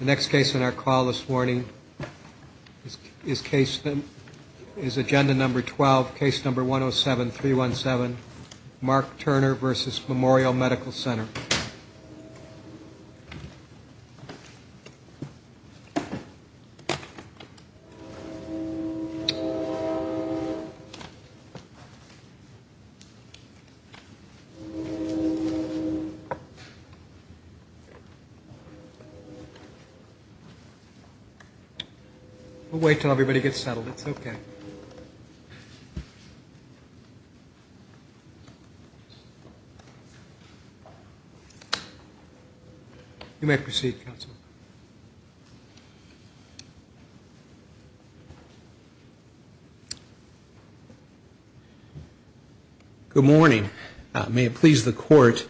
The next case on our call this morning is agenda number 12, case number 107317, Mark Turner v. Memorial Medical Center. We'll wait until everybody gets settled. It's okay. You may proceed, counsel. Good morning. May it please the Court,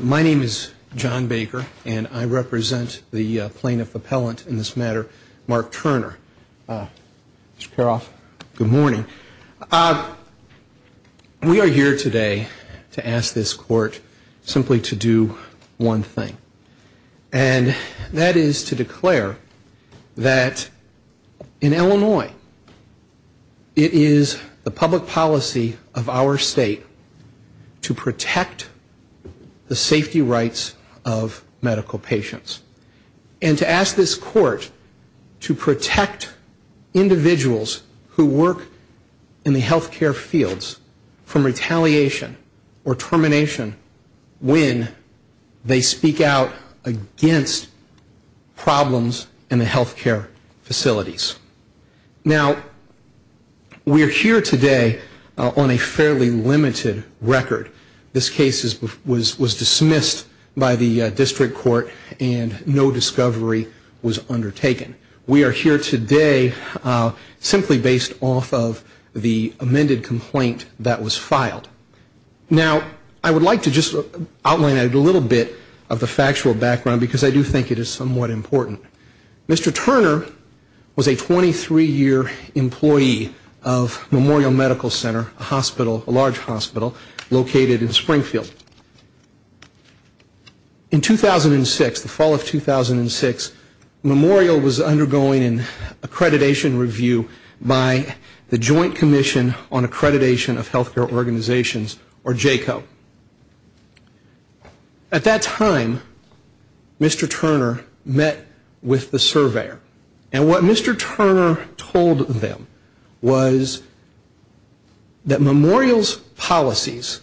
my name is John Baker, and I represent the plaintiff appellant in this matter, Mark Turner. Mr. Karoff, good morning. We are here today to ask this Court simply to do one thing, and that is to declare that in Illinois, it is the public policy of our state to protect the safety rights of medical patients, and to ask this Court to protect individuals who work in the healthcare fields from retaliation or termination when they speak out against problems in the healthcare facilities. Now, we are here today on a fairly limited record. This case was dismissed by the district court, and no discovery was undertaken. We are here today simply based off of the amended complaint that was filed. Now, I would like to just outline a little bit of the factual background because I do think it is somewhat important. Mr. Turner was a 23-year employee of Memorial Medical Center, a hospital, a large hospital, located in Springfield. In 2006, the fall of 2006, Memorial was undergoing an accreditation review by the Joint Commission on Accreditation of Healthcare Organizations, or JACO. At that time, Mr. Turner met with the surveyor, and what Mr. Turner told them was that Memorial's policies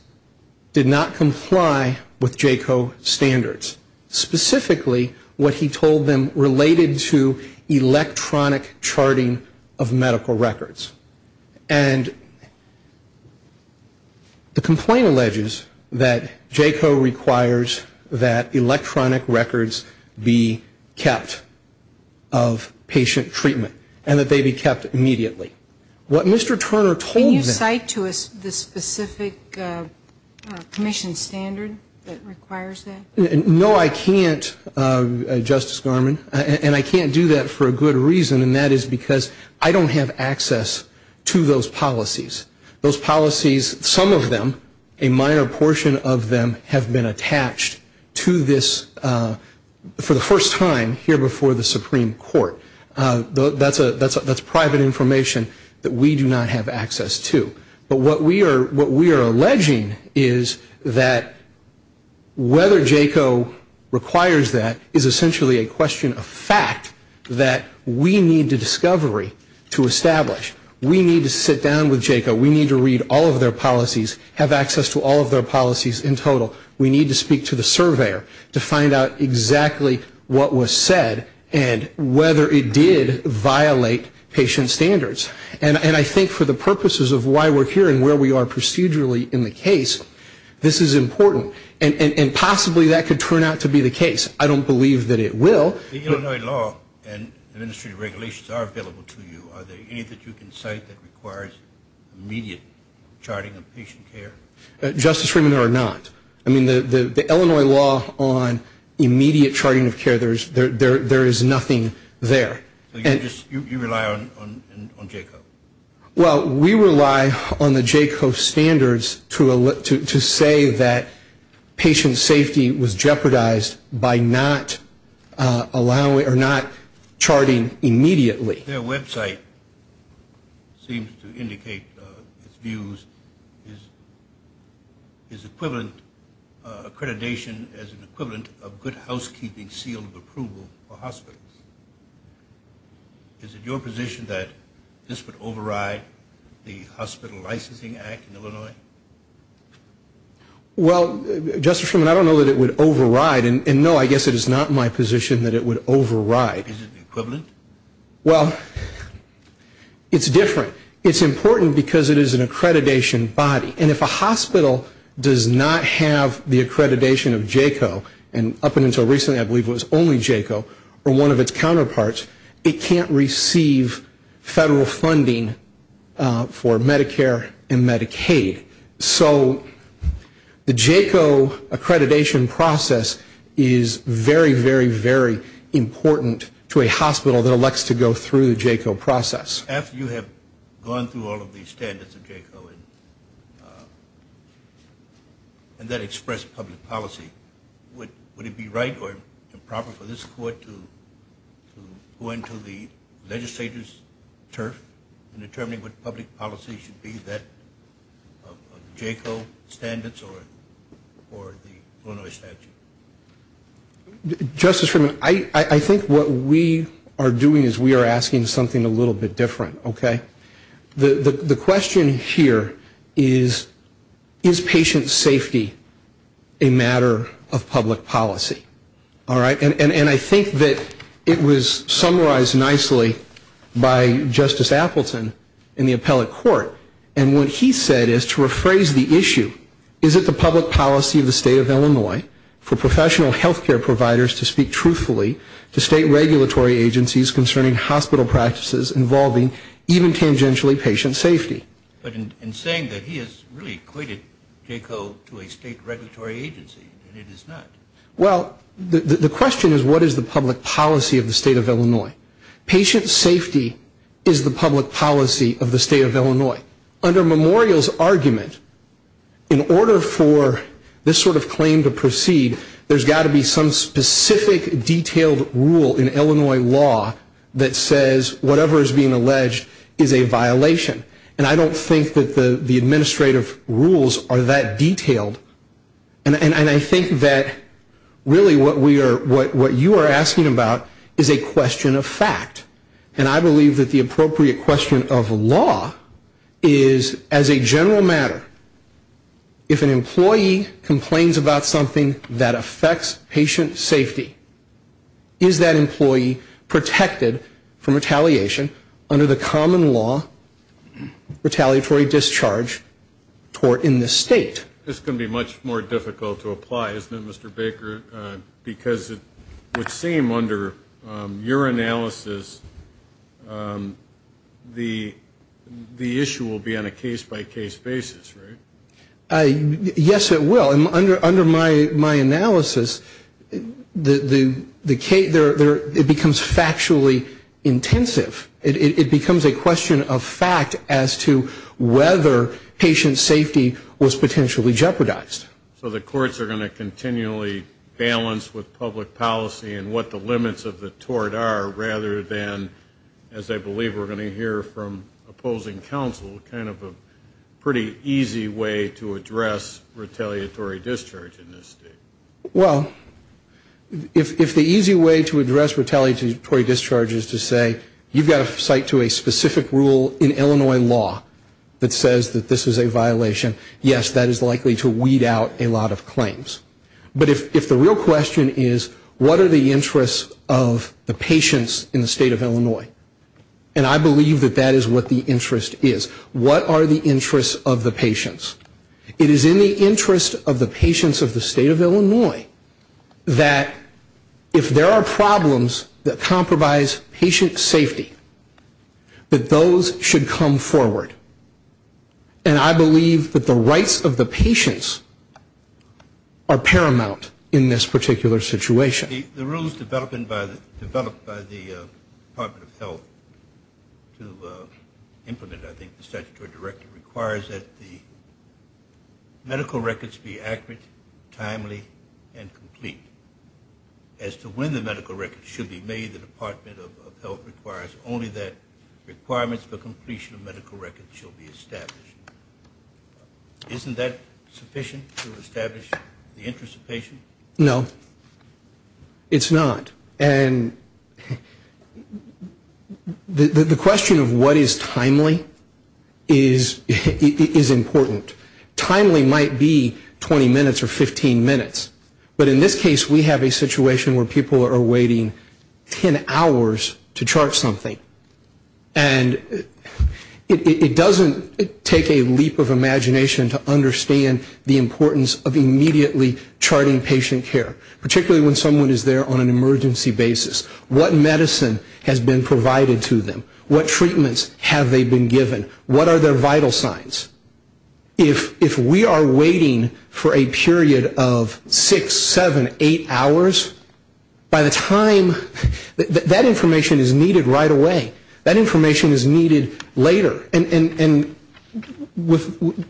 did not comply with JACO standards, specifically what he told them related to electronic charting of medical records. And the complaint alleges that JACO requires that electronic records be kept of patient treatment and that they be kept immediately. What Mr. Turner told them... Can you cite to us the specific commission standard that requires that? No, I can't, Justice Garmon, and I can't do that for a good reason, and that is because I don't have access to those policies. Those policies, some of them, a minor portion of them, have been attached to this for the first time here before the Supreme Court. That's private information that we do not have access to. But what we are alleging is that whether JACO requires that is essentially a question of fact that we need the discovery to establish. We need to sit down with JACO. We need to read all of their policies, have access to all of their policies in total. We need to speak to the surveyor to find out exactly what was said and whether it did violate patient standards. And I think for the purposes of why we're here and where we are procedurally in the case, this is important, and possibly that could turn out to be the case. I don't believe that it will. The Illinois law and administrative regulations are available to you. Are there any that you can cite that requires immediate charting of patient care? Justice Freeman, there are not. I mean, the Illinois law on immediate charting of care, there is nothing there. You rely on JACO? Well, we rely on the JACO standards to say that patient safety was jeopardized by not charting immediately. Their website seems to indicate its views is equivalent to accreditation as an equivalent of good housekeeping seal of approval for hospitals. Is it your position that this would override the hospital licensing act in Illinois? Well, Justice Freeman, I don't know that it would override. And no, I guess it is not my position that it would override. Is it equivalent? Well, it's different. It's important because it is an accreditation body. And if a hospital does not have the accreditation of JACO, and up until recently I believe it was only JACO or one of its counterparts, it can't receive federal funding for Medicare and Medicaid. So the JACO accreditation process is very, very, very important to a hospital that elects to go through the JACO process. After you have gone through all of the standards of JACO and that expressed public policy, would it be right or improper for this court to go into the legislator's turf in determining what public policy should be, that JACO standards or the Illinois statute? Justice Freeman, I think what we are doing is we are asking something a little bit different. Okay? The question here is, is patient safety a matter of public policy? All right? And I think that it was summarized nicely by Justice Appleton in the appellate court. And what he said is to rephrase the issue, is it the public policy of the state of Illinois for professional healthcare providers to speak truthfully to state regulatory agencies concerning hospital practices involving even tangentially patient safety? But in saying that, he has really equated JACO to a state regulatory agency, and it is not. Well, the question is, what is the public policy of the state of Illinois? Patient safety is the public policy of the state of Illinois. Under Memorial's argument, in order for this sort of claim to proceed, there has got to be some specific detailed rule in Illinois law that says whatever is being alleged is a violation. And I don't think that the administrative rules are that detailed. And I think that really what you are asking about is a question of fact. And I believe that the appropriate question of law is, as a general matter, if an employee complains about something that affects patient safety, is that employee protected from retaliation under the common law retaliatory discharge tort in this state? This is going to be much more difficult to apply, isn't it, Mr. Baker? Because it would seem under your analysis the issue will be on a case-by-case basis, right? Yes, it will. Under my analysis, it becomes factually intensive. It becomes a question of fact as to whether patient safety was potentially jeopardized. So the courts are going to continually balance with public policy and what the limits of the tort are, rather than, as I believe we are going to hear from opposing counsel, kind of a pretty easy way to address retaliatory discharge in this state. Well, if the easy way to address retaliatory discharge is to say, you've got to cite to a specific rule in Illinois law that says that this is a violation, yes, that is likely to weed out a lot of claims. But if the real question is, what are the interests of the patients in the state of Illinois? And I believe that that is what the interest is. What are the interests of the patients? It is in the interest of the patients of the state of Illinois that if there are problems that compromise patient safety, that those should come forward. And I believe that the rights of the patients are paramount in this particular situation. The rules developed by the Department of Health to implement, I think, the statutory directive requires that the medical records be accurate, timely, and complete. As to when the medical records should be made, the Department of Health requires only that the medical records be complete. Isn't that sufficient to establish the interests of patients? No, it's not. And the question of what is timely is important. Timely might be 20 minutes or 15 minutes. But in this case, we have a situation where people are waiting 10 hours to chart something. And it doesn't take a leap of imagination to understand the importance of immediately charting patient care, particularly when someone is there on an emergency basis. What medicine has been provided to them? What treatments have they been given? What are their vital signs? If we are waiting for a period of six, seven, eight hours, by the time that information is needed right away, that information is needed later. And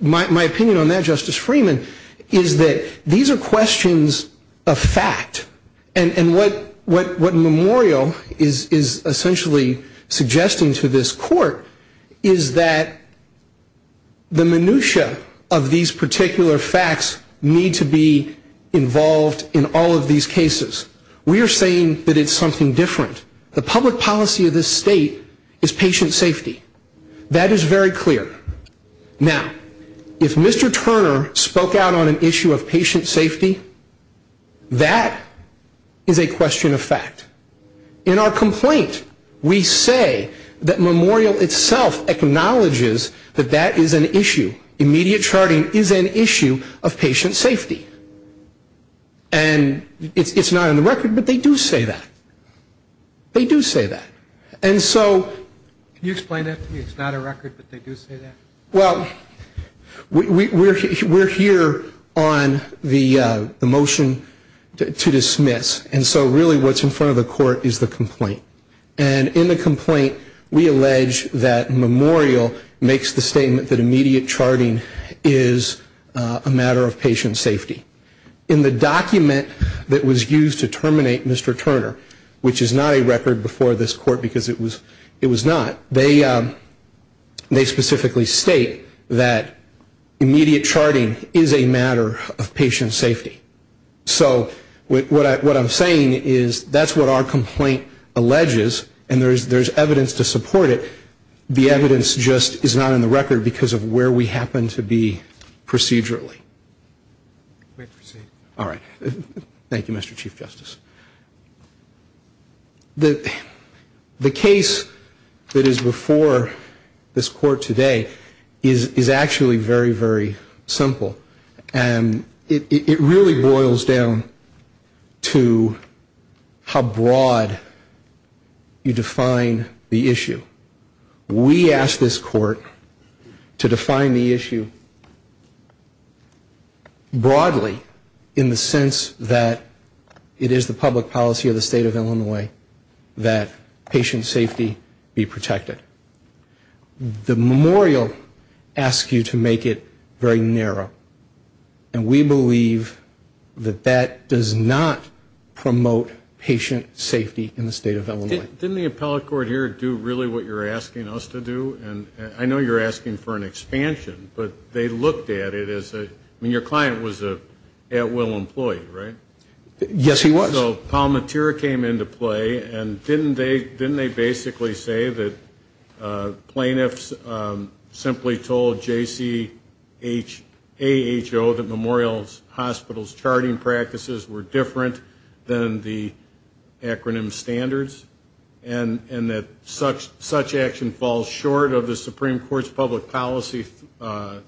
my opinion on that, Justice Freeman, is that these are questions of fact. And what Memorial is essentially suggesting to this court is that the minutia of these particular facts need to be involved in all of these cases. We are saying that it's something different. The public policy of this state is patient safety. That is very clear. Now, if Mr. Turner spoke out on an issue of patient safety, that is a question of fact. In our complaint, we say that Memorial itself acknowledges that that is an issue. Immediate charting is an issue of patient safety. And it's not on the record, but they do say that. They do say that. Can you explain that to me? It's not a record, but they do say that? Well, we're here on the motion to dismiss. And so really what's in front of the court is the complaint. And in the complaint, we allege that Memorial makes the statement that immediate charting is a matter of patient safety. In the document that was used to terminate Mr. Turner, which is not a record before this court because it was not, they specifically state that immediate charting is a matter of patient safety. So what I'm saying is that's what our complaint alleges. And there's evidence to support it. The evidence just is not in the record because of where we happen to be procedurally. All right. Thank you, Mr. Chief Justice. The case that is before this court today is actually very, very simple. And it really boils down to how broad you define the issue. We ask this court to define the issue broadly in the sense that it is a matter of patient safety. It is the public policy of the state of Illinois that patient safety be protected. The Memorial asks you to make it very narrow. And we believe that that does not promote patient safety in the state of Illinois. Didn't the appellate court here do really what you're asking us to do? And I know you're asking for an expansion, but they looked at it as a, I mean, your client was an at-will employee, right? Yes, he was. So Palmatier came into play, and didn't they basically say that plaintiffs simply told JCAHO that Memorial Hospital's charting practices were different than the acronym standards? And that such action falls short of the Supreme Court's public policy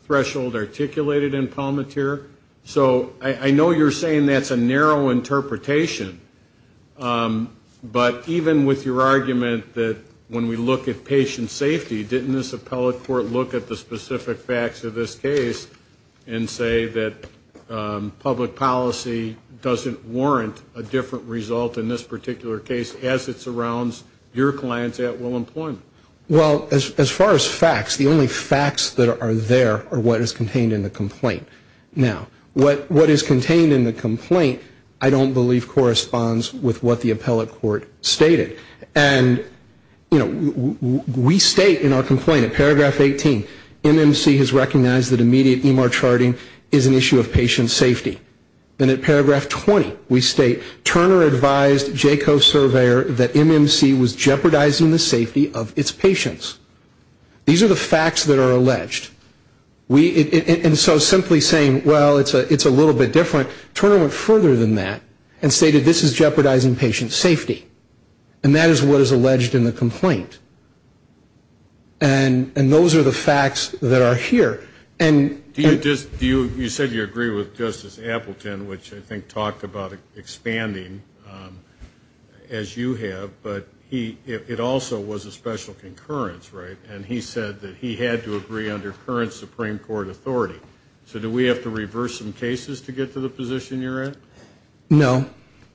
threshold articulated in Palmatier? So I know you're saying that's a narrow interpretation, but even with your argument that when we look at patient safety, didn't this appellate court look at the specific facts of this case and say that public policy doesn't warrant a different result in this particular case as it surrounds your client's at-will employment? Well, as far as facts, the only facts that are there are what is contained in the complaint. Now, what is contained in the complaint I don't believe corresponds with what the appellate court stated. And, you know, we state in our complaint at paragraph 18, MMC has recognized that immediate EMR charting is an issue of patient safety. Then at paragraph 20, we state, Turner advised JCAHO surveyor that MMC was jeopardizing the safety of its patients. These are the facts that are alleged. And so simply saying, well, it's a little bit different. Turner went further than that and stated this is jeopardizing patient safety. And that is what is alleged in the complaint. And those are the facts that are here. You said you agree with Justice Appleton, which I think talked about expanding as you have, but it also was a special concurrence, right? And he said that he had to agree under current Supreme Court authority. So do we have to reverse some cases to get to the position you're at? No.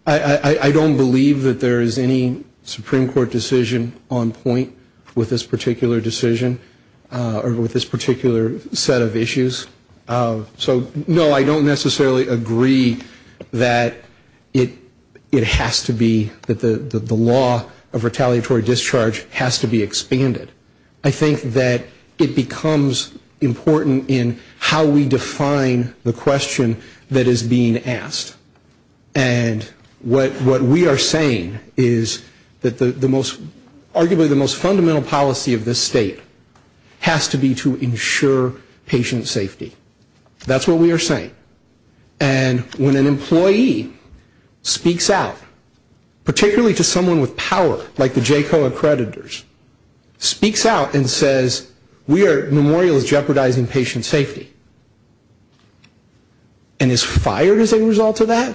I don't believe that there is any Supreme Court decision on point with this particular decision or with this particular set of issues. So, no, I don't necessarily agree that it has to be, that the law of retaliatory discharge has to be expanded. I think that it becomes important in how we define the question that is being asked. And what we are saying is that the most, arguably the most fundamental policy of this State has to be to engage and ensure patient safety. That's what we are saying. And when an employee speaks out, particularly to someone with power, like the JCOA accreditors, speaks out and says, we are memorials jeopardizing patient safety, and is fired as a result of that,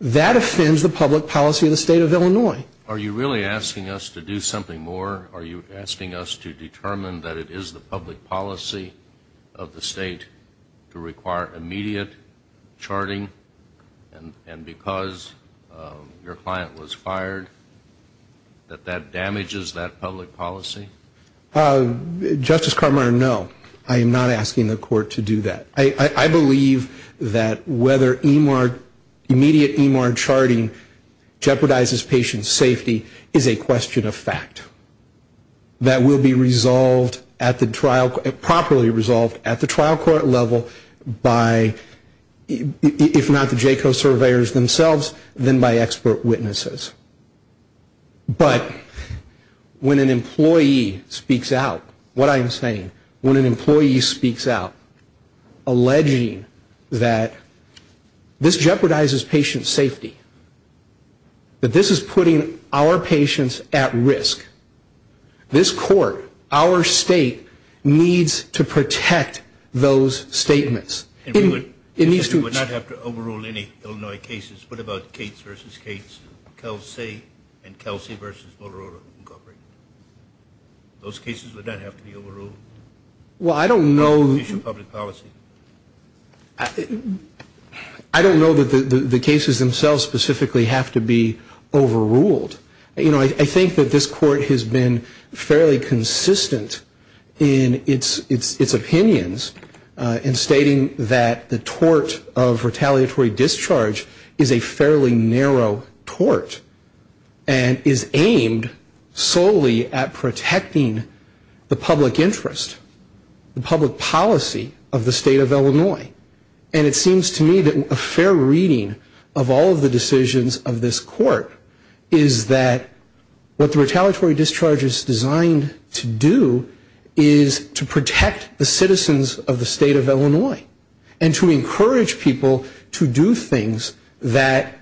that offends the public policy of the State of Illinois. Are you really asking us to do something more? Are you asking us to determine that it is the public policy of the State to require immediate charting, and because your client was fired, that that damages that public policy? Justice Carminer, no. I am not asking the Court to do that. I believe that whether EMAR, immediate EMAR charting, jeopardizes patient safety, I don't believe so. Patient safety is a question of fact that will be properly resolved at the trial court level by, if not the JCOA surveyors themselves, then by expert witnesses. But when an employee speaks out, what I am saying, when an employee speaks out alleging that this jeopardizes patient safety, that this is putting our patients at risk, this Court, our State, needs to protect those statements. And we would not have to overrule any Illinois cases. What about Cates v. Cates, Kelsey, and Kelsey v. Motorola Incorporated? Those cases would not have to be overruled? Well, I don't know... I don't know that the cases themselves specifically have to be overruled. You know, I think that this Court has been fairly consistent in its opinions in stating that the tort of retaliatory discharge is a fairly narrow tort and is aimed solely at protecting the public interest. The public policy of the State of Illinois. And it seems to me that a fair reading of all of the decisions of this Court is that what the retaliatory discharge is designed to do is to protect the citizens of the State of Illinois and to encourage people to do things that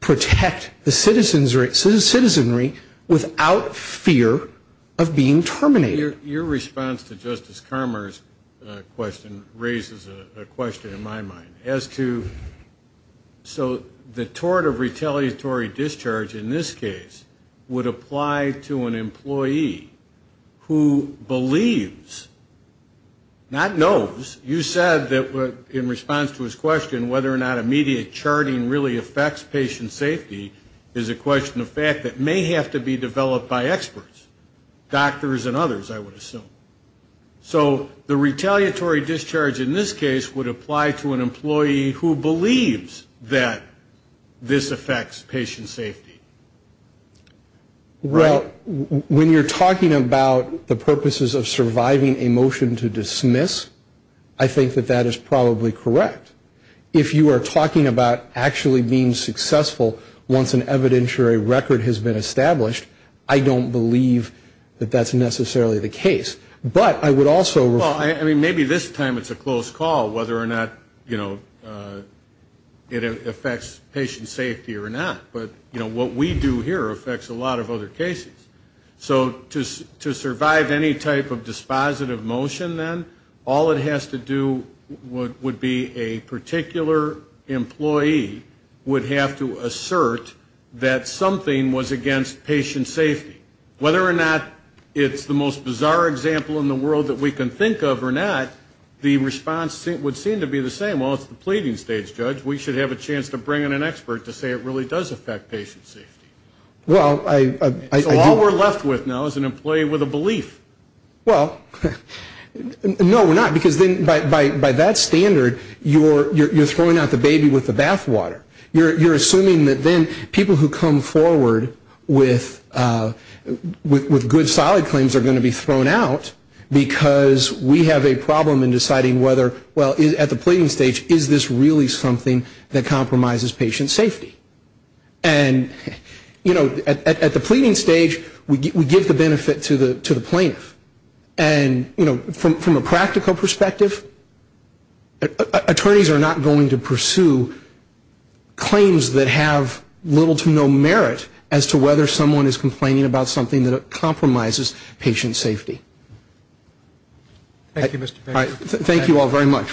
protect the citizenry without fear of being terminated. Your response to Justice Carmer's question raises a question in my mind. So the tort of retaliatory discharge in this case would apply to an employee who believes, not knows, you said that in response to his question whether or not immediate charting really affects patient safety is a question of fact that may have to be developed by experts, doctors and others I would assume. So the retaliatory discharge in this case would apply to an employee who believes that this affects patient safety. Well, when you're talking about the purposes of surviving a motion to dismiss, I think that that is probably correct. If you are talking about actually being successful once an evidentiary record has been established, I don't believe that that's necessarily the case. But I would also refer to the fact that it's a close call whether or not it affects patient safety or not. But what we do here affects a lot of other cases. So to survive any type of dispositive motion then, all it has to do would be a close call. So a particular employee would have to assert that something was against patient safety. Whether or not it's the most bizarre example in the world that we can think of or not, the response would seem to be the same. Well, it's the pleading stage, Judge. We should have a chance to bring in an expert to say it really does affect patient safety. So all we're left with now is an employee with a belief. You're throwing out the baby with the bathwater. You're assuming that then people who come forward with good, solid claims are going to be thrown out because we have a problem in deciding whether, well, at the pleading stage, is this really something that compromises patient safety? And, you know, at the pleading stage, we give the benefit to the plaintiff. And, you know, from a practical perspective, attorneys are not going to pursue claims that have little to no merit as to whether someone is complaining about something that compromises patient safety. Thank you, Mr. Fisher. Thank you all very much.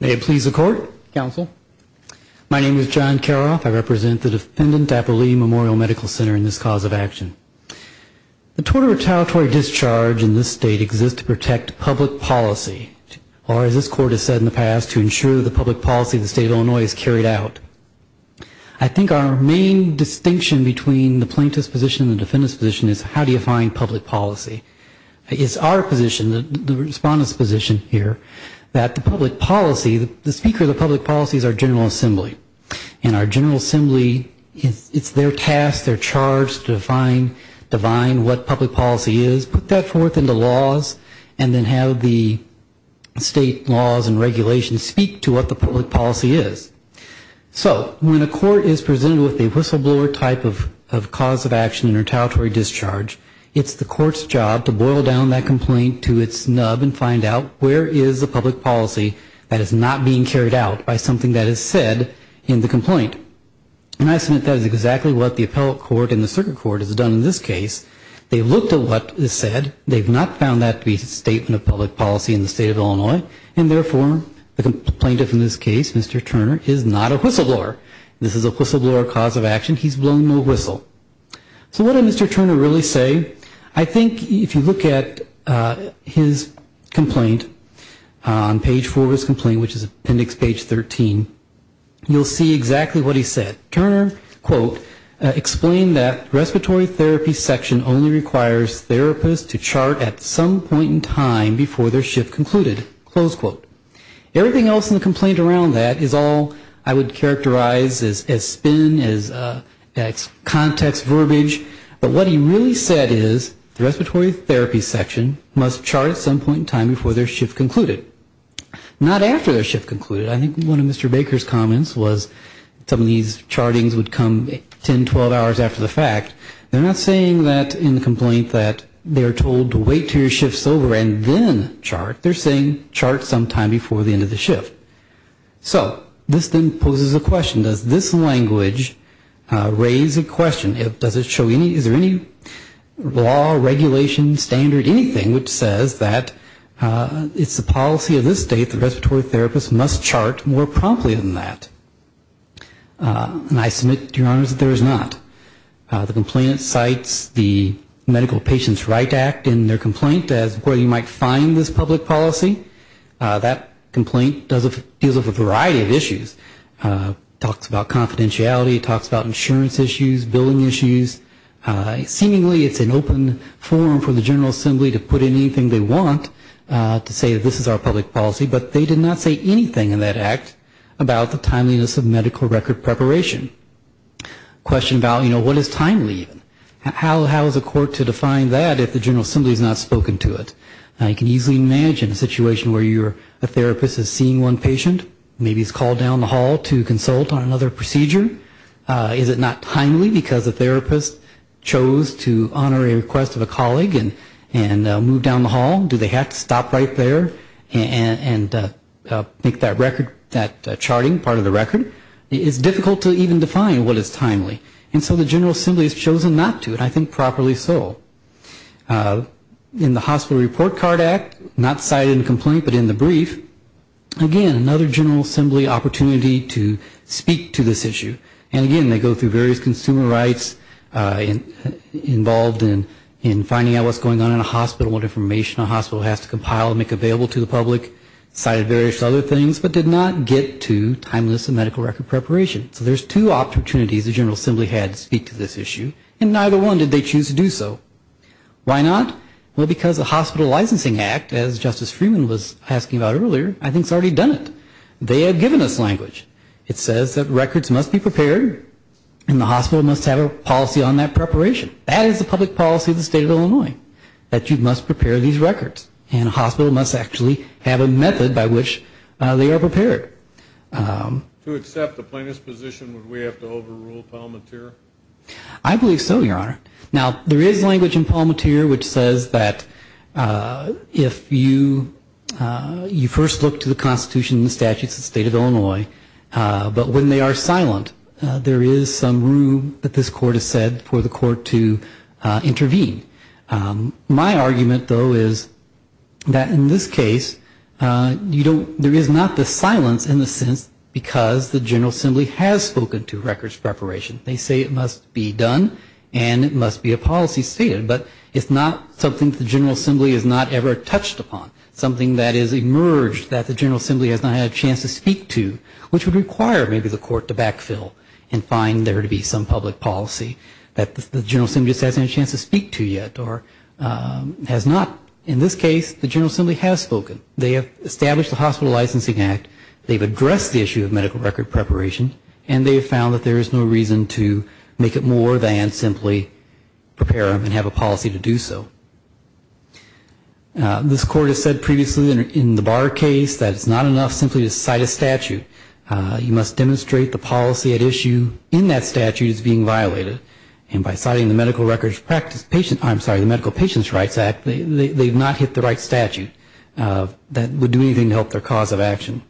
May it please the Court. Counsel. My name is John Karoff. I represent the defendant at the Lee Memorial Medical Center in this cause of action. The total retaliatory discharge in this state exists to protect public policy, or as this Court has said in the past, to ensure the public policy. So how do you find public policy? It's our position, the Respondent's position here, that the public policy, the speaker of the public policy is our General Assembly. And our General Assembly, it's their task, their charge to define what public policy is, put that forth into laws, and then have the state laws and regulations speak to what the public policy is. So when a court is presented with a whistleblower type of cause of action or retaliatory discharge, it's the court's job to boil down that complaint to its nub and find out where is the public policy that is not being carried out by something that is said in the complaint. And I submit that is exactly what the appellate court and the circuit court has done in this case. They've looked at what is said, they've not found that to be a statement of public policy in the state of Illinois, and therefore the complainant in this case, Mr. Turner, is not a whistleblower. This is a whistleblower cause of action, he's blown no whistle. So what did Mr. Turner really say? I think if you look at his complaint on page four of his complaint, which is appendix page 13, you'll see exactly what he said. Turner, quote, explained that respiratory therapy section only requires therapists to chart at some point in time before their shift concluded, close quote. Everything else in the complaint around that is all I would characterize as spin, as context verbiage, but what he really said is the respiratory therapy section must chart at some point in time before their shift concluded. Not after their shift concluded. I think one of Mr. Baker's comments was some of these chartings would come 10, 12 hours after the fact. They're not saying that in the complaint that they are told to wait until your shift is over and then chart. They're saying chart sometime before the end of the shift. So this then poses a question. Does this language raise a question? Does it show any, is there any law, regulation, standard, anything which says that it's the policy of this state that respiratory therapists must chart more promptly than that? And I submit to your honors that there is not. The complainant cites the Medical Patients' Right Act in their complaint as where you might find this public policy. That complaint deals with a variety of issues. Talks about confidentiality, talks about insurance issues, billing issues. Seemingly it's an open forum for the General Assembly to put in anything they want to say that this is our public policy. But they did not say anything in that act about the timeliness of medical record preparation. Question about, you know, what is timely? How is a court to define that if the General Assembly has not spoken to it? You can easily imagine a situation where a therapist is seeing one patient. Maybe he's called down the hall to consult on another procedure. Is it not timely because the therapist chose to honor a request of a colleague and moved down the hall? Do they have to stop right there and make that charting part of the record? It's difficult to even define what is timely. And so the General Assembly has chosen not to, and I think properly so. In the Hospital Report Card Act, not cited in the complaint but in the brief, again another General Assembly opportunity to speak to this issue. And again, they go through various consumer rights involved in finding out what's going on in a hospital, what information a hospital has to compile and make available to the public, cited various other things, but did not get to timeliness of medical record preparation. So there's two opportunities the General Assembly had to speak to this issue, and neither one did they choose to do so. Why not? Well, because the Hospital Licensing Act, as Justice Freeman was asking about earlier, I think has already done it. They have given us language. It says that records must be prepared and the hospital must have a policy on that preparation. That is the public policy of the State of Illinois, that you must prepare these records. And a hospital must actually have a method by which they are prepared. To accept the plaintiff's position, would we have to overrule Palmatier? I believe so, Your Honor. Now, there is language in Palmatier which says that if you first look to the Constitution and the statutes of the State of Illinois, but when they are silent, there is some room that this Court has said for the Court to intervene. My argument, though, is that in this case, there is not the silence in the sense because the General Assembly has spoken to records preparation. They say it must be done and it must be a policy stated, but it's not something that the General Assembly has not ever touched upon, something that has emerged that the General Assembly has not had a chance to speak to, which would require maybe the Court to backfill and find there to be some public policy that the General Assembly just hasn't had a chance to speak to yet or has not. In this case, the General Assembly has spoken. They have established the Hospital Licensing Act. They've addressed the issue of medical record preparation, and they have found that there is no reason to make it more than simply prepare them and have a policy to do so. This Court has said previously in the Barr case that it's not enough simply to cite a statute. You must demonstrate the policy at issue in that statute is being violated, and by citing the Medical Patients' Rights Act, they've not hit the right statute that would do anything to help their cause of action.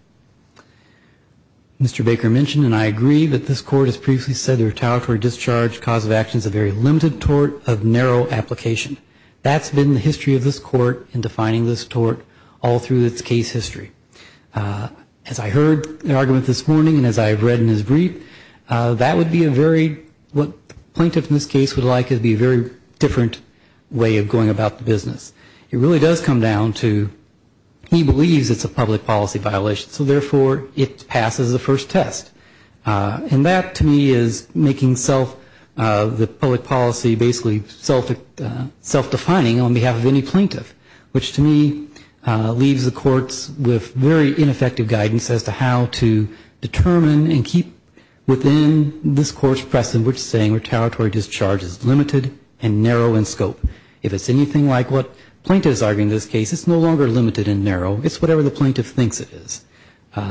Mr. Baker mentioned, and I agree, that this Court has previously said the retaliatory discharge cause of action is a very limited tort of narrow application. That's been the history of this Court in defining this tort all through its case history. As I heard the argument this morning and as I've read in his brief, that would be a very, what the plaintiff in this case would like to be a very different way of going about the business. It really does come down to he believes it's a public policy violation, so therefore it passes the first test. And that to me is making self, the public policy basically self-defining on behalf of any plaintiff, which to me leaves the courts with very ineffective guidance as to how to determine and keep within this Court's precedent which saying retaliatory discharge is limited and narrow in scope. If it's anything like what the plaintiff is arguing in this case, it's no longer limited and narrow. It's whatever the plaintiff thinks it is.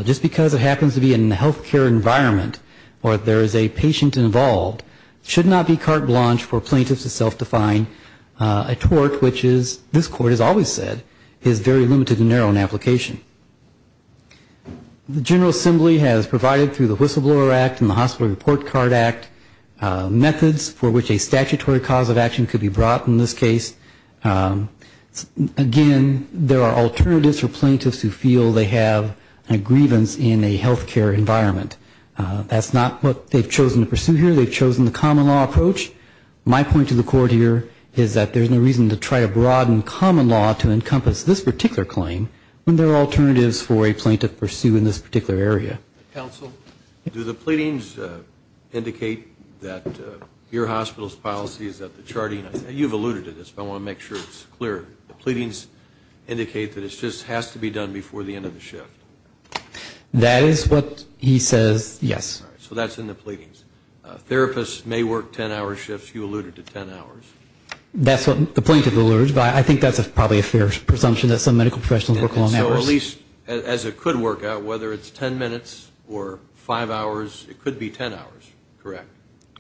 Just because it happens to be in a health care environment or there is a patient involved, should not be carte blanche for plaintiffs to self-define a tort which is, this Court has always said, is very limited and narrow in application. The General Assembly has provided through the Whistleblower Act and the Hospital Report Card Act, methods for which a statutory cause of action could be brought in this case. Again, there are alternatives for plaintiffs who feel they have a grievance in a health care environment. That's not what they've chosen to pursue here. They've chosen the common law approach. My point to the Court here is that there's no reason to try to broaden common law to encompass this particular claim when there are alternatives for a plaintiff to pursue in this particular area. Counsel, do the pleadings indicate that your hospital's policy is that the charting, you've alluded to this, but I want to make sure it's clear. The pleadings indicate that it just has to be done before the end of the shift. That is what he says, yes. So that's in the pleadings. Therapists may work 10-hour shifts. You alluded to 10 hours. That's what the plaintiff alluded to, but I think that's probably a fair presumption that some medical professionals work long hours. At least, as it could work out, whether it's 10 minutes or 5 hours, it could be 10 hours, correct?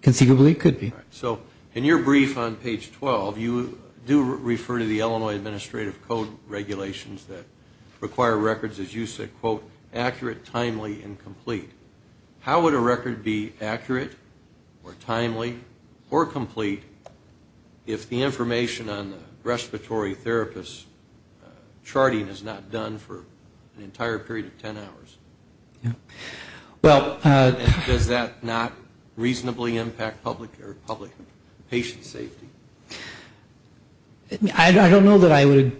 Conceivably, it could be. In your brief on page 12, you do refer to the Illinois Administrative Code regulations that require records, as you said, quote, accurate, timely, and complete. How would a record be accurate or timely or complete if the information on the respiratory therapist's charting is not done for an entire period of 10 hours? Does that not reasonably impact public or public patient safety? I don't know that I would.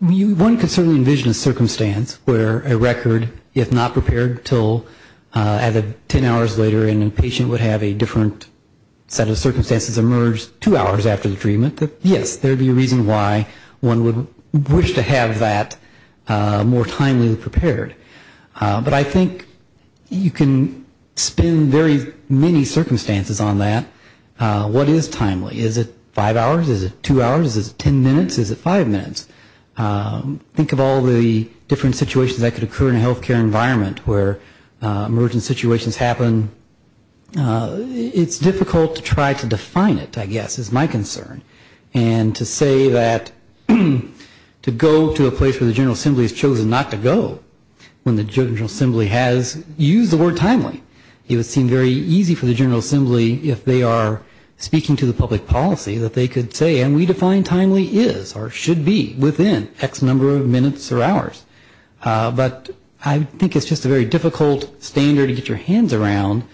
One could certainly envision a circumstance where a record, if not prepared until 10 hours later, and a patient would have a different set of circumstances emerge two hours after the treatment, yes, there would be a reason why one would wish to have that more timely prepared. But I think you can spin very many circumstances on that. What is timely? Is it 5 hours? Is it 2 hours? Is it 10 minutes? Is it 5 minutes? Think of all the different situations that could occur in a health care environment where emergent situations happen. It's difficult to try to define it, I guess, is my concern. And to say that to go to a place where the General Assembly has chosen not to go, when the General Assembly has used the word timely, it would seem very easy for the General Assembly, if they are speaking to the public policy, that they could say, and we define timely is or should be within X number of minutes or hours. But I think it's just a very difficult standard to get your hands around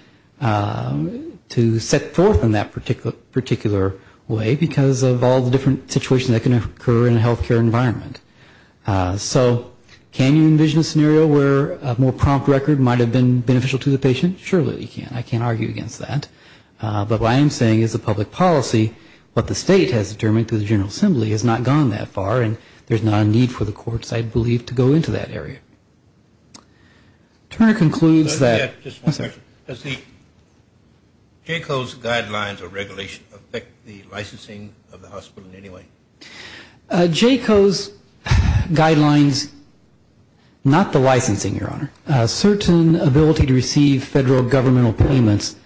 to set forth in that particular way because of all the different situations that can occur in a health care environment. So can you envision a scenario where a more prompt record might have been beneficial to the patient? Surely you can. I can't argue against that. But what I am saying is the public policy, what the state has determined through the General Assembly, has not gone that far, and there's not a need for the courts, I believe, to go into that area. Turner concludes that... Just one question. Does the JCO's guidelines or regulation affect the licensing of the hospital in any way? JCO's guidelines, not the licensing, Your Honor. Certain ability to receive federal governmental payments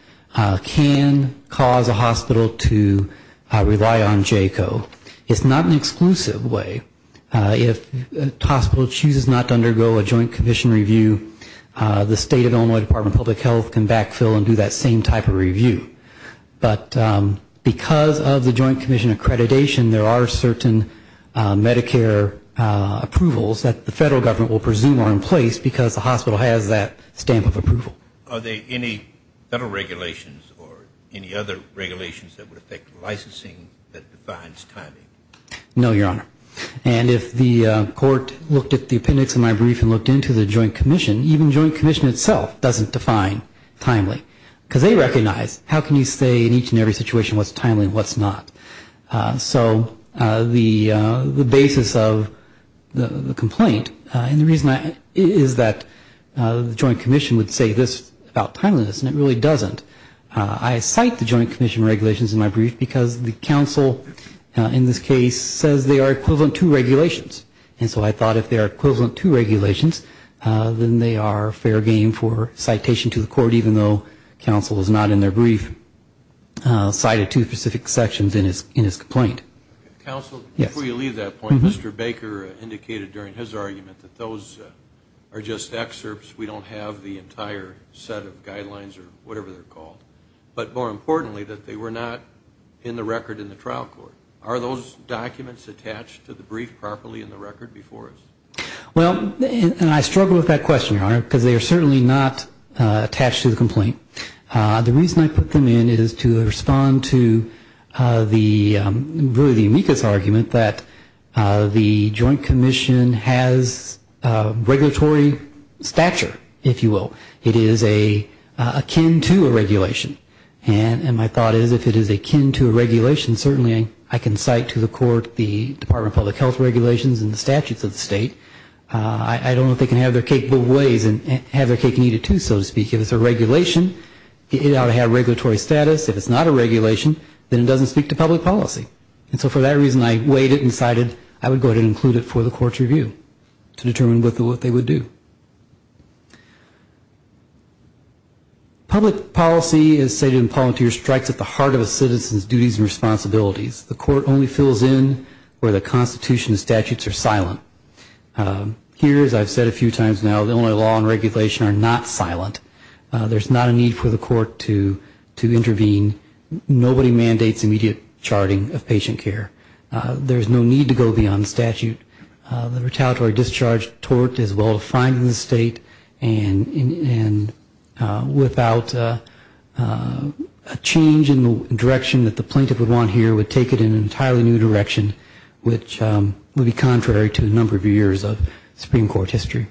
can cause a hospital to rely on JCO. It's not an exclusive way. If a hospital chooses not to undergo a joint commission review, the state of Illinois Department of Public Health can backfill and do that same type of review. But because of the joint commission accreditation, there are certain Medicare approvals that the federal government will presume are in place, and the hospital has that stamp of approval. Are there any federal regulations or any other regulations that would affect licensing that defines timing? No, Your Honor. And if the court looked at the appendix of my brief and looked into the joint commission, even joint commission itself doesn't define timely, because they recognize how can you say in each and every situation what's timely and what's not. So the basis of the complaint, and the reason is that the joint commission would say this about timeliness, and it really doesn't. I cite the joint commission regulations in my brief because the counsel in this case says they are equivalent to regulations. And so I thought if they are equivalent to regulations, then they are fair game for citation to the court, even though counsel is not in their brief cited to specific sections in his complaint. Counsel, before you leave that point, Mr. Baker indicated during his argument that those are just excerpts. We don't have the entire set of guidelines or whatever they're called. But more importantly, that they were not in the record in the trial court. Are those documents attached to the brief properly in the record before us? Well, and I struggle with that question, Your Honor, because they are certainly not attached to the complaint. The reason I put them in is to respond to the amicus argument that the joint commission has regulatory stature, if you will. It is akin to a regulation. And my thought is if it is akin to a regulation, certainly I can cite to the court the Department of Public Health regulations and the statutes of the state. I don't know if they can have their cake and eat it too, so to speak. If it's a regulation, it ought to have regulatory status. If it's not a regulation, then it doesn't speak to public policy. And so for that reason, I weighed it and cited it. I would go ahead and include it for the court's review to determine what they would do. Public policy, as stated in Palantir, strikes at the heart of a citizen's duties and responsibilities. The court only fills in where the constitution and statutes are silent. Here, as I've said a few times now, the only law and regulation are not silent. There's not a need for the court to intervene. Nobody mandates immediate charting of patient care. There's no need to go beyond statute. The retaliatory discharge tort is well-defined in the state, and without a change in the direction that the plaintiff would want here would take it in an entirely new direction, which would be contrary to a number of years of Supreme Court history.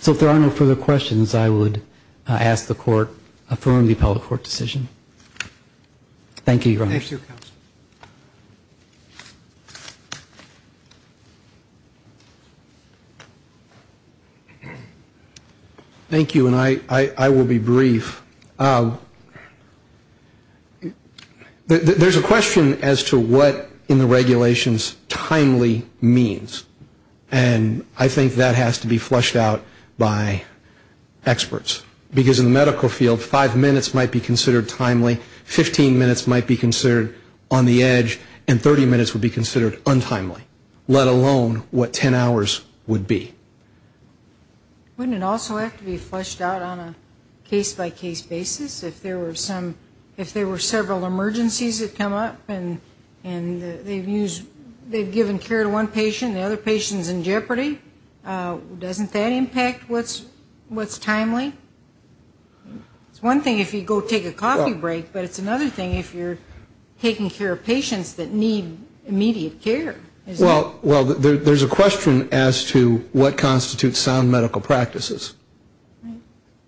So if there are no further questions, I would ask the court affirm the appellate court decision. Thank you, Your Honor. Thank you, and I will be brief. There's a question as to what in the regulations timely means. And I think that has to be flushed out by experts. Because in the medical field, five minutes might be considered timely, 15 minutes might be considered on the edge, and 30 minutes would be considered untimely, let alone what 10 hours would be. Wouldn't it also have to be flushed out on a case-by-case basis? If there were several emergencies that come up, and they've given care to one patient, the other patient's been taken care of, the other patient's in jeopardy, doesn't that impact what's timely? It's one thing if you go take a coffee break, but it's another thing if you're taking care of patients that need immediate care. Well, there's a question as to what constitutes sound medical practices.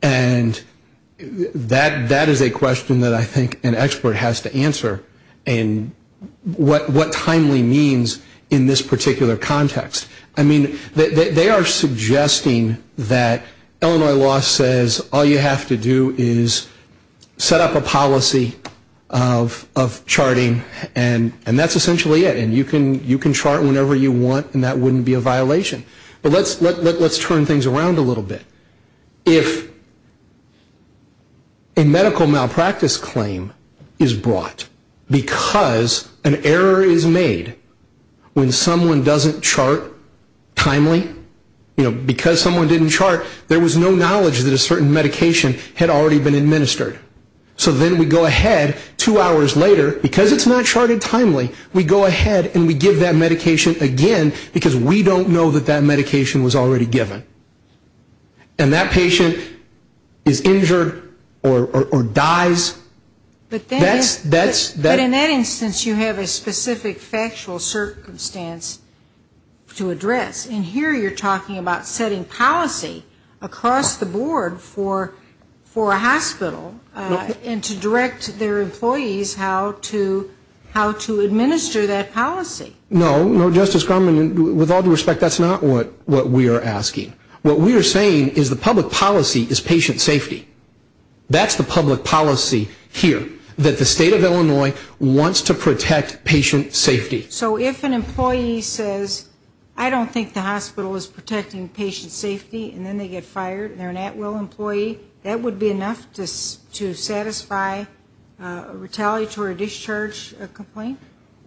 And that is a question that I think an expert has to answer, and what timely means in this particular context. I mean, they are suggesting that Illinois law says all you have to do is set up a policy of charting, and that's essentially it. And you can chart whenever you want, and that wouldn't be a violation. But let's turn things around a little bit. If a medical malpractice claim is brought because an error is made when someone doesn't chart, timely, you know, because someone didn't chart, there was no knowledge that a certain medication had already been administered. So then we go ahead two hours later, because it's not charted timely, we go ahead and we give that medication again, because we don't know that that medication was already given. And that patient is injured or dies. But in that instance, you have a specific factual circumstance to address. And here you're talking about setting policy across the board for a hospital, and to direct their employees how to administer that policy. No, no, Justice Grumman, with all due respect, that's not what we are asking. What we are saying is the public policy is patient safety. That's the public policy here, that the state of Illinois wants to protect patient safety. So if an employee says, I don't think the hospital is protecting patient safety, and then they get fired, and they're an at-will employee, that would be enough to satisfy a retaliatory discharge complaint?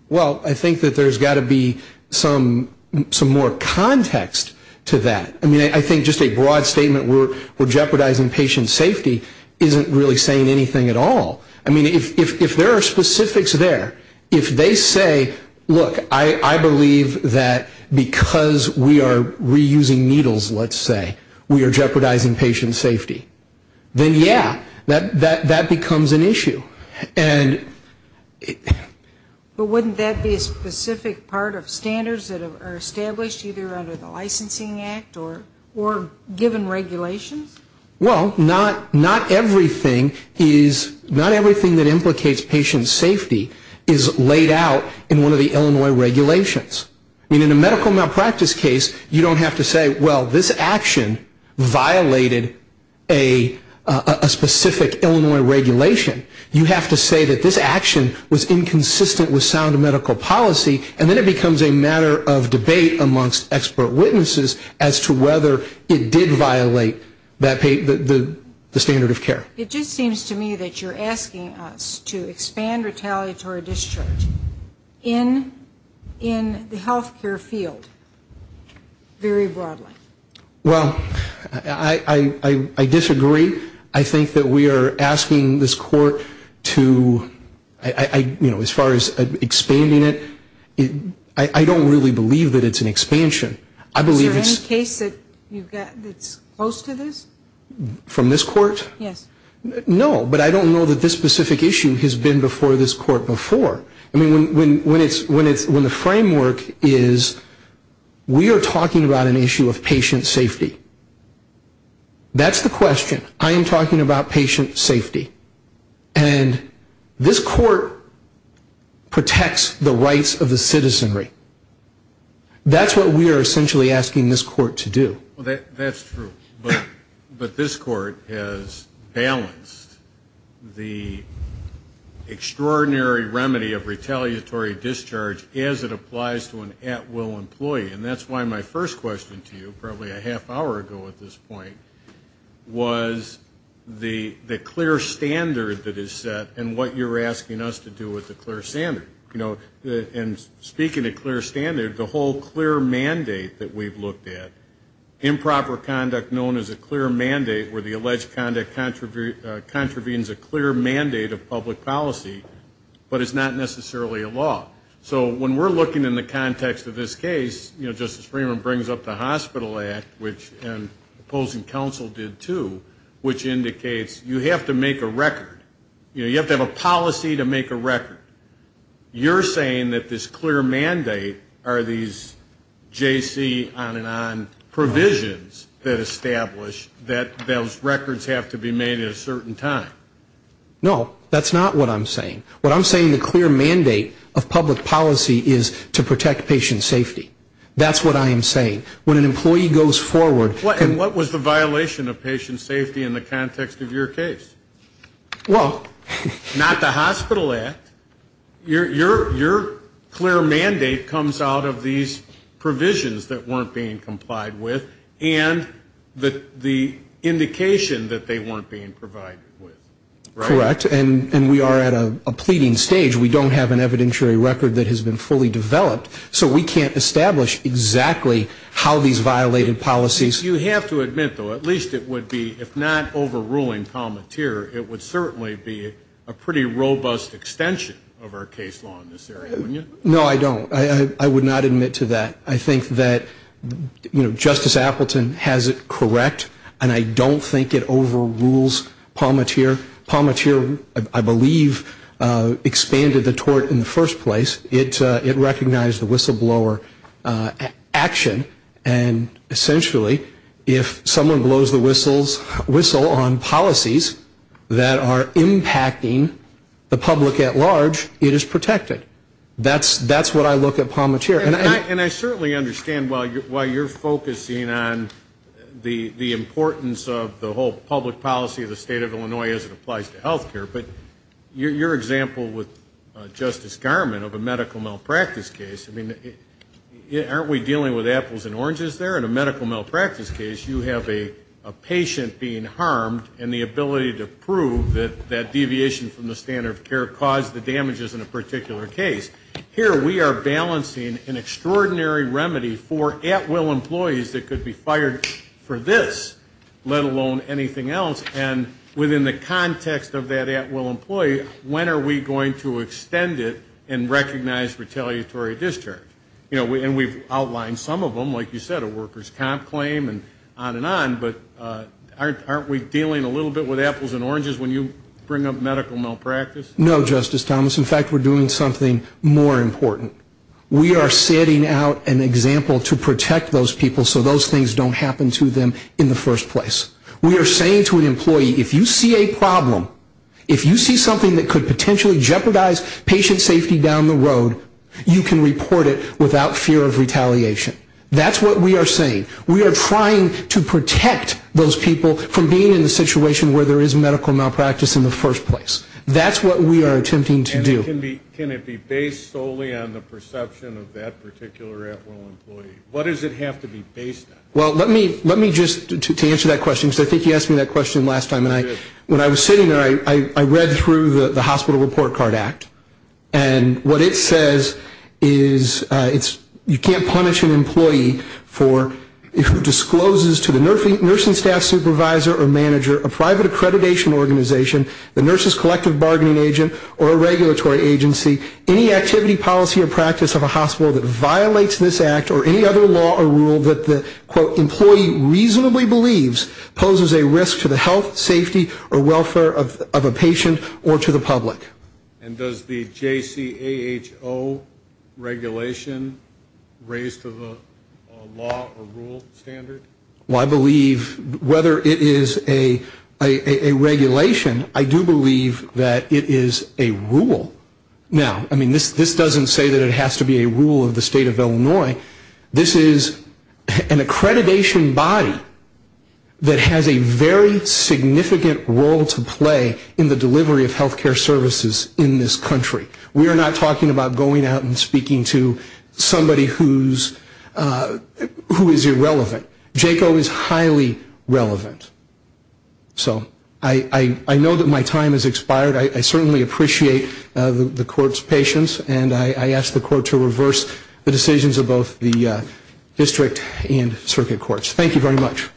Well, I think that there's got to be some more context to that. I mean, I think just a broad statement, we're jeopardizing patient safety, isn't really saying anything at all. I mean, if there are specifics there, if they say, look, I believe that because we are reusing needles, let's say, we are jeopardizing patient safety, then yeah, that becomes an issue. But wouldn't that be a specific part of standards that are established either under the Licensing Act or given regulations? Well, not everything that implicates patient safety is laid out in one of the Illinois regulations. I mean, in a medical malpractice case, you don't have to say, well, this action violated a specific Illinois regulation. You have to say that this action was inconsistent with sound medical policy, and then it becomes a matter of debate amongst expert witnesses as to whether it did violate the standard of care. It just seems to me that you're asking us to expand retaliatory discharge in the healthcare field very broadly. Well, I disagree. I think that we are asking this court to, you know, as far as expanding it, I don't really believe that it's an expansion. Is there any case that's close to this? From this court? Yes. No, but I don't know that this specific issue has been before this court before. I mean, when the framework is we are talking about an issue of patient safety. That's the question. I am talking about patient safety. And this court protects the rights of the citizenry. That's what we are essentially asking this court to do. Well, that's true. But this court has balanced the extraordinary remedy of retaliatory discharge as it applies to an at-will employee. And that's why my first question to you, probably a half hour ago at this point, was the clear standard that is set and what you're asking us to do with the clear standard. And speaking of clear standard, the whole clear mandate that we've looked at, improper conduct known as a clear mandate where the alleged conduct contravenes a clear mandate of public policy, but it's not necessarily a law. So when we're looking in the context of this case, you know, Justice Freeman brings up the Hospital Act, which opposing counsel did too, which indicates you have to make a record. You're saying that this clear mandate are these JC on and on provisions that establish that those records have to be made at a certain time. No, that's not what I'm saying. What I'm saying, the clear mandate of public policy is to protect patient safety. That's what I am saying. When an employee goes forward. And what was the violation of patient safety in the context of your case? Not the Hospital Act. Your clear mandate comes out of these provisions that weren't being complied with and the indication that they weren't being complied with. That's what I'm saying. You have to admit, though, at least it would be, if not overruling Palmatier, it would certainly be a pretty robust extension of our case law in this area, wouldn't you? No, I don't. I would not admit to that. I think that Justice Appleton has it correct, and I don't think it overrules Palmatier. Palmatier, I believe, expanded the tort in the first place. It recognized the whistleblower action. And essentially, if someone blows the whistle on policies that are impacting the public at large, it is protected. That's what I look at Palmatier. And I certainly understand why you're focusing on the importance of the whole public policy of the State of Illinois as it applies to health care, but your example with Justice Garment of a medical malpractice case, I mean, aren't we dealing with apples and oranges there? In a medical malpractice case, you have a patient being harmed and the ability to prove that that deviation from the standard of care caused the damages in a particular case. Here we are balancing an extraordinary remedy for at-will employees that could be fired for this, let alone anything else. And within the context of that at-will employee, when are we going to extend it and recognize retaliatory discharge? And we've outlined some of them, like you said, a worker's comp claim and on and on. But aren't we dealing a little bit with apples and oranges when you bring up medical malpractice? No, Justice Thomas. In fact, we're doing something more important. We are setting out an example to protect those people so those things don't happen to them in the first place. We are saying to an employee, if you see a problem, if you see something that could potentially jeopardize patient safety down the road, you can report it without fear of retaliation. That's what we are saying. We are trying to protect those people from being in a situation where there is medical malpractice in the first place. That's what we are attempting to do. And can it be based solely on the perception of that particular at-will employee? What does it have to be based on? Well, let me just, to answer that question, because I think you asked me that question last time. And when I was sitting there, I read through the Hospital Report Card Act, and what it says is you can't punish an employee who discloses to the nursing staff supervisor or manager, a private accreditation organization, the nurse's collective bargaining agent, or a regulatory agency any activity, policy, or practice of a hospital that violates this act or any other law or rule that the, quote, employee reasonably believes poses a risk to the health, safety, or welfare of a patient or to the public. And does the JCAHO regulation raise to the law or rule standard? Well, I believe whether it is a regulation, I do believe that it is a rule. Now, I mean, this doesn't say that it has to be a rule of the state of Illinois. This is an accreditation body that has a very significant role to play in the delivery of health care services in this country. We are not talking about going out and speaking to somebody who is irrelevant. JCAHO is highly relevant. So I know that my time has expired. I certainly appreciate the Court's patience, and I ask the Court to reverse the decisions of both the district and circuit courts. Thank you very much.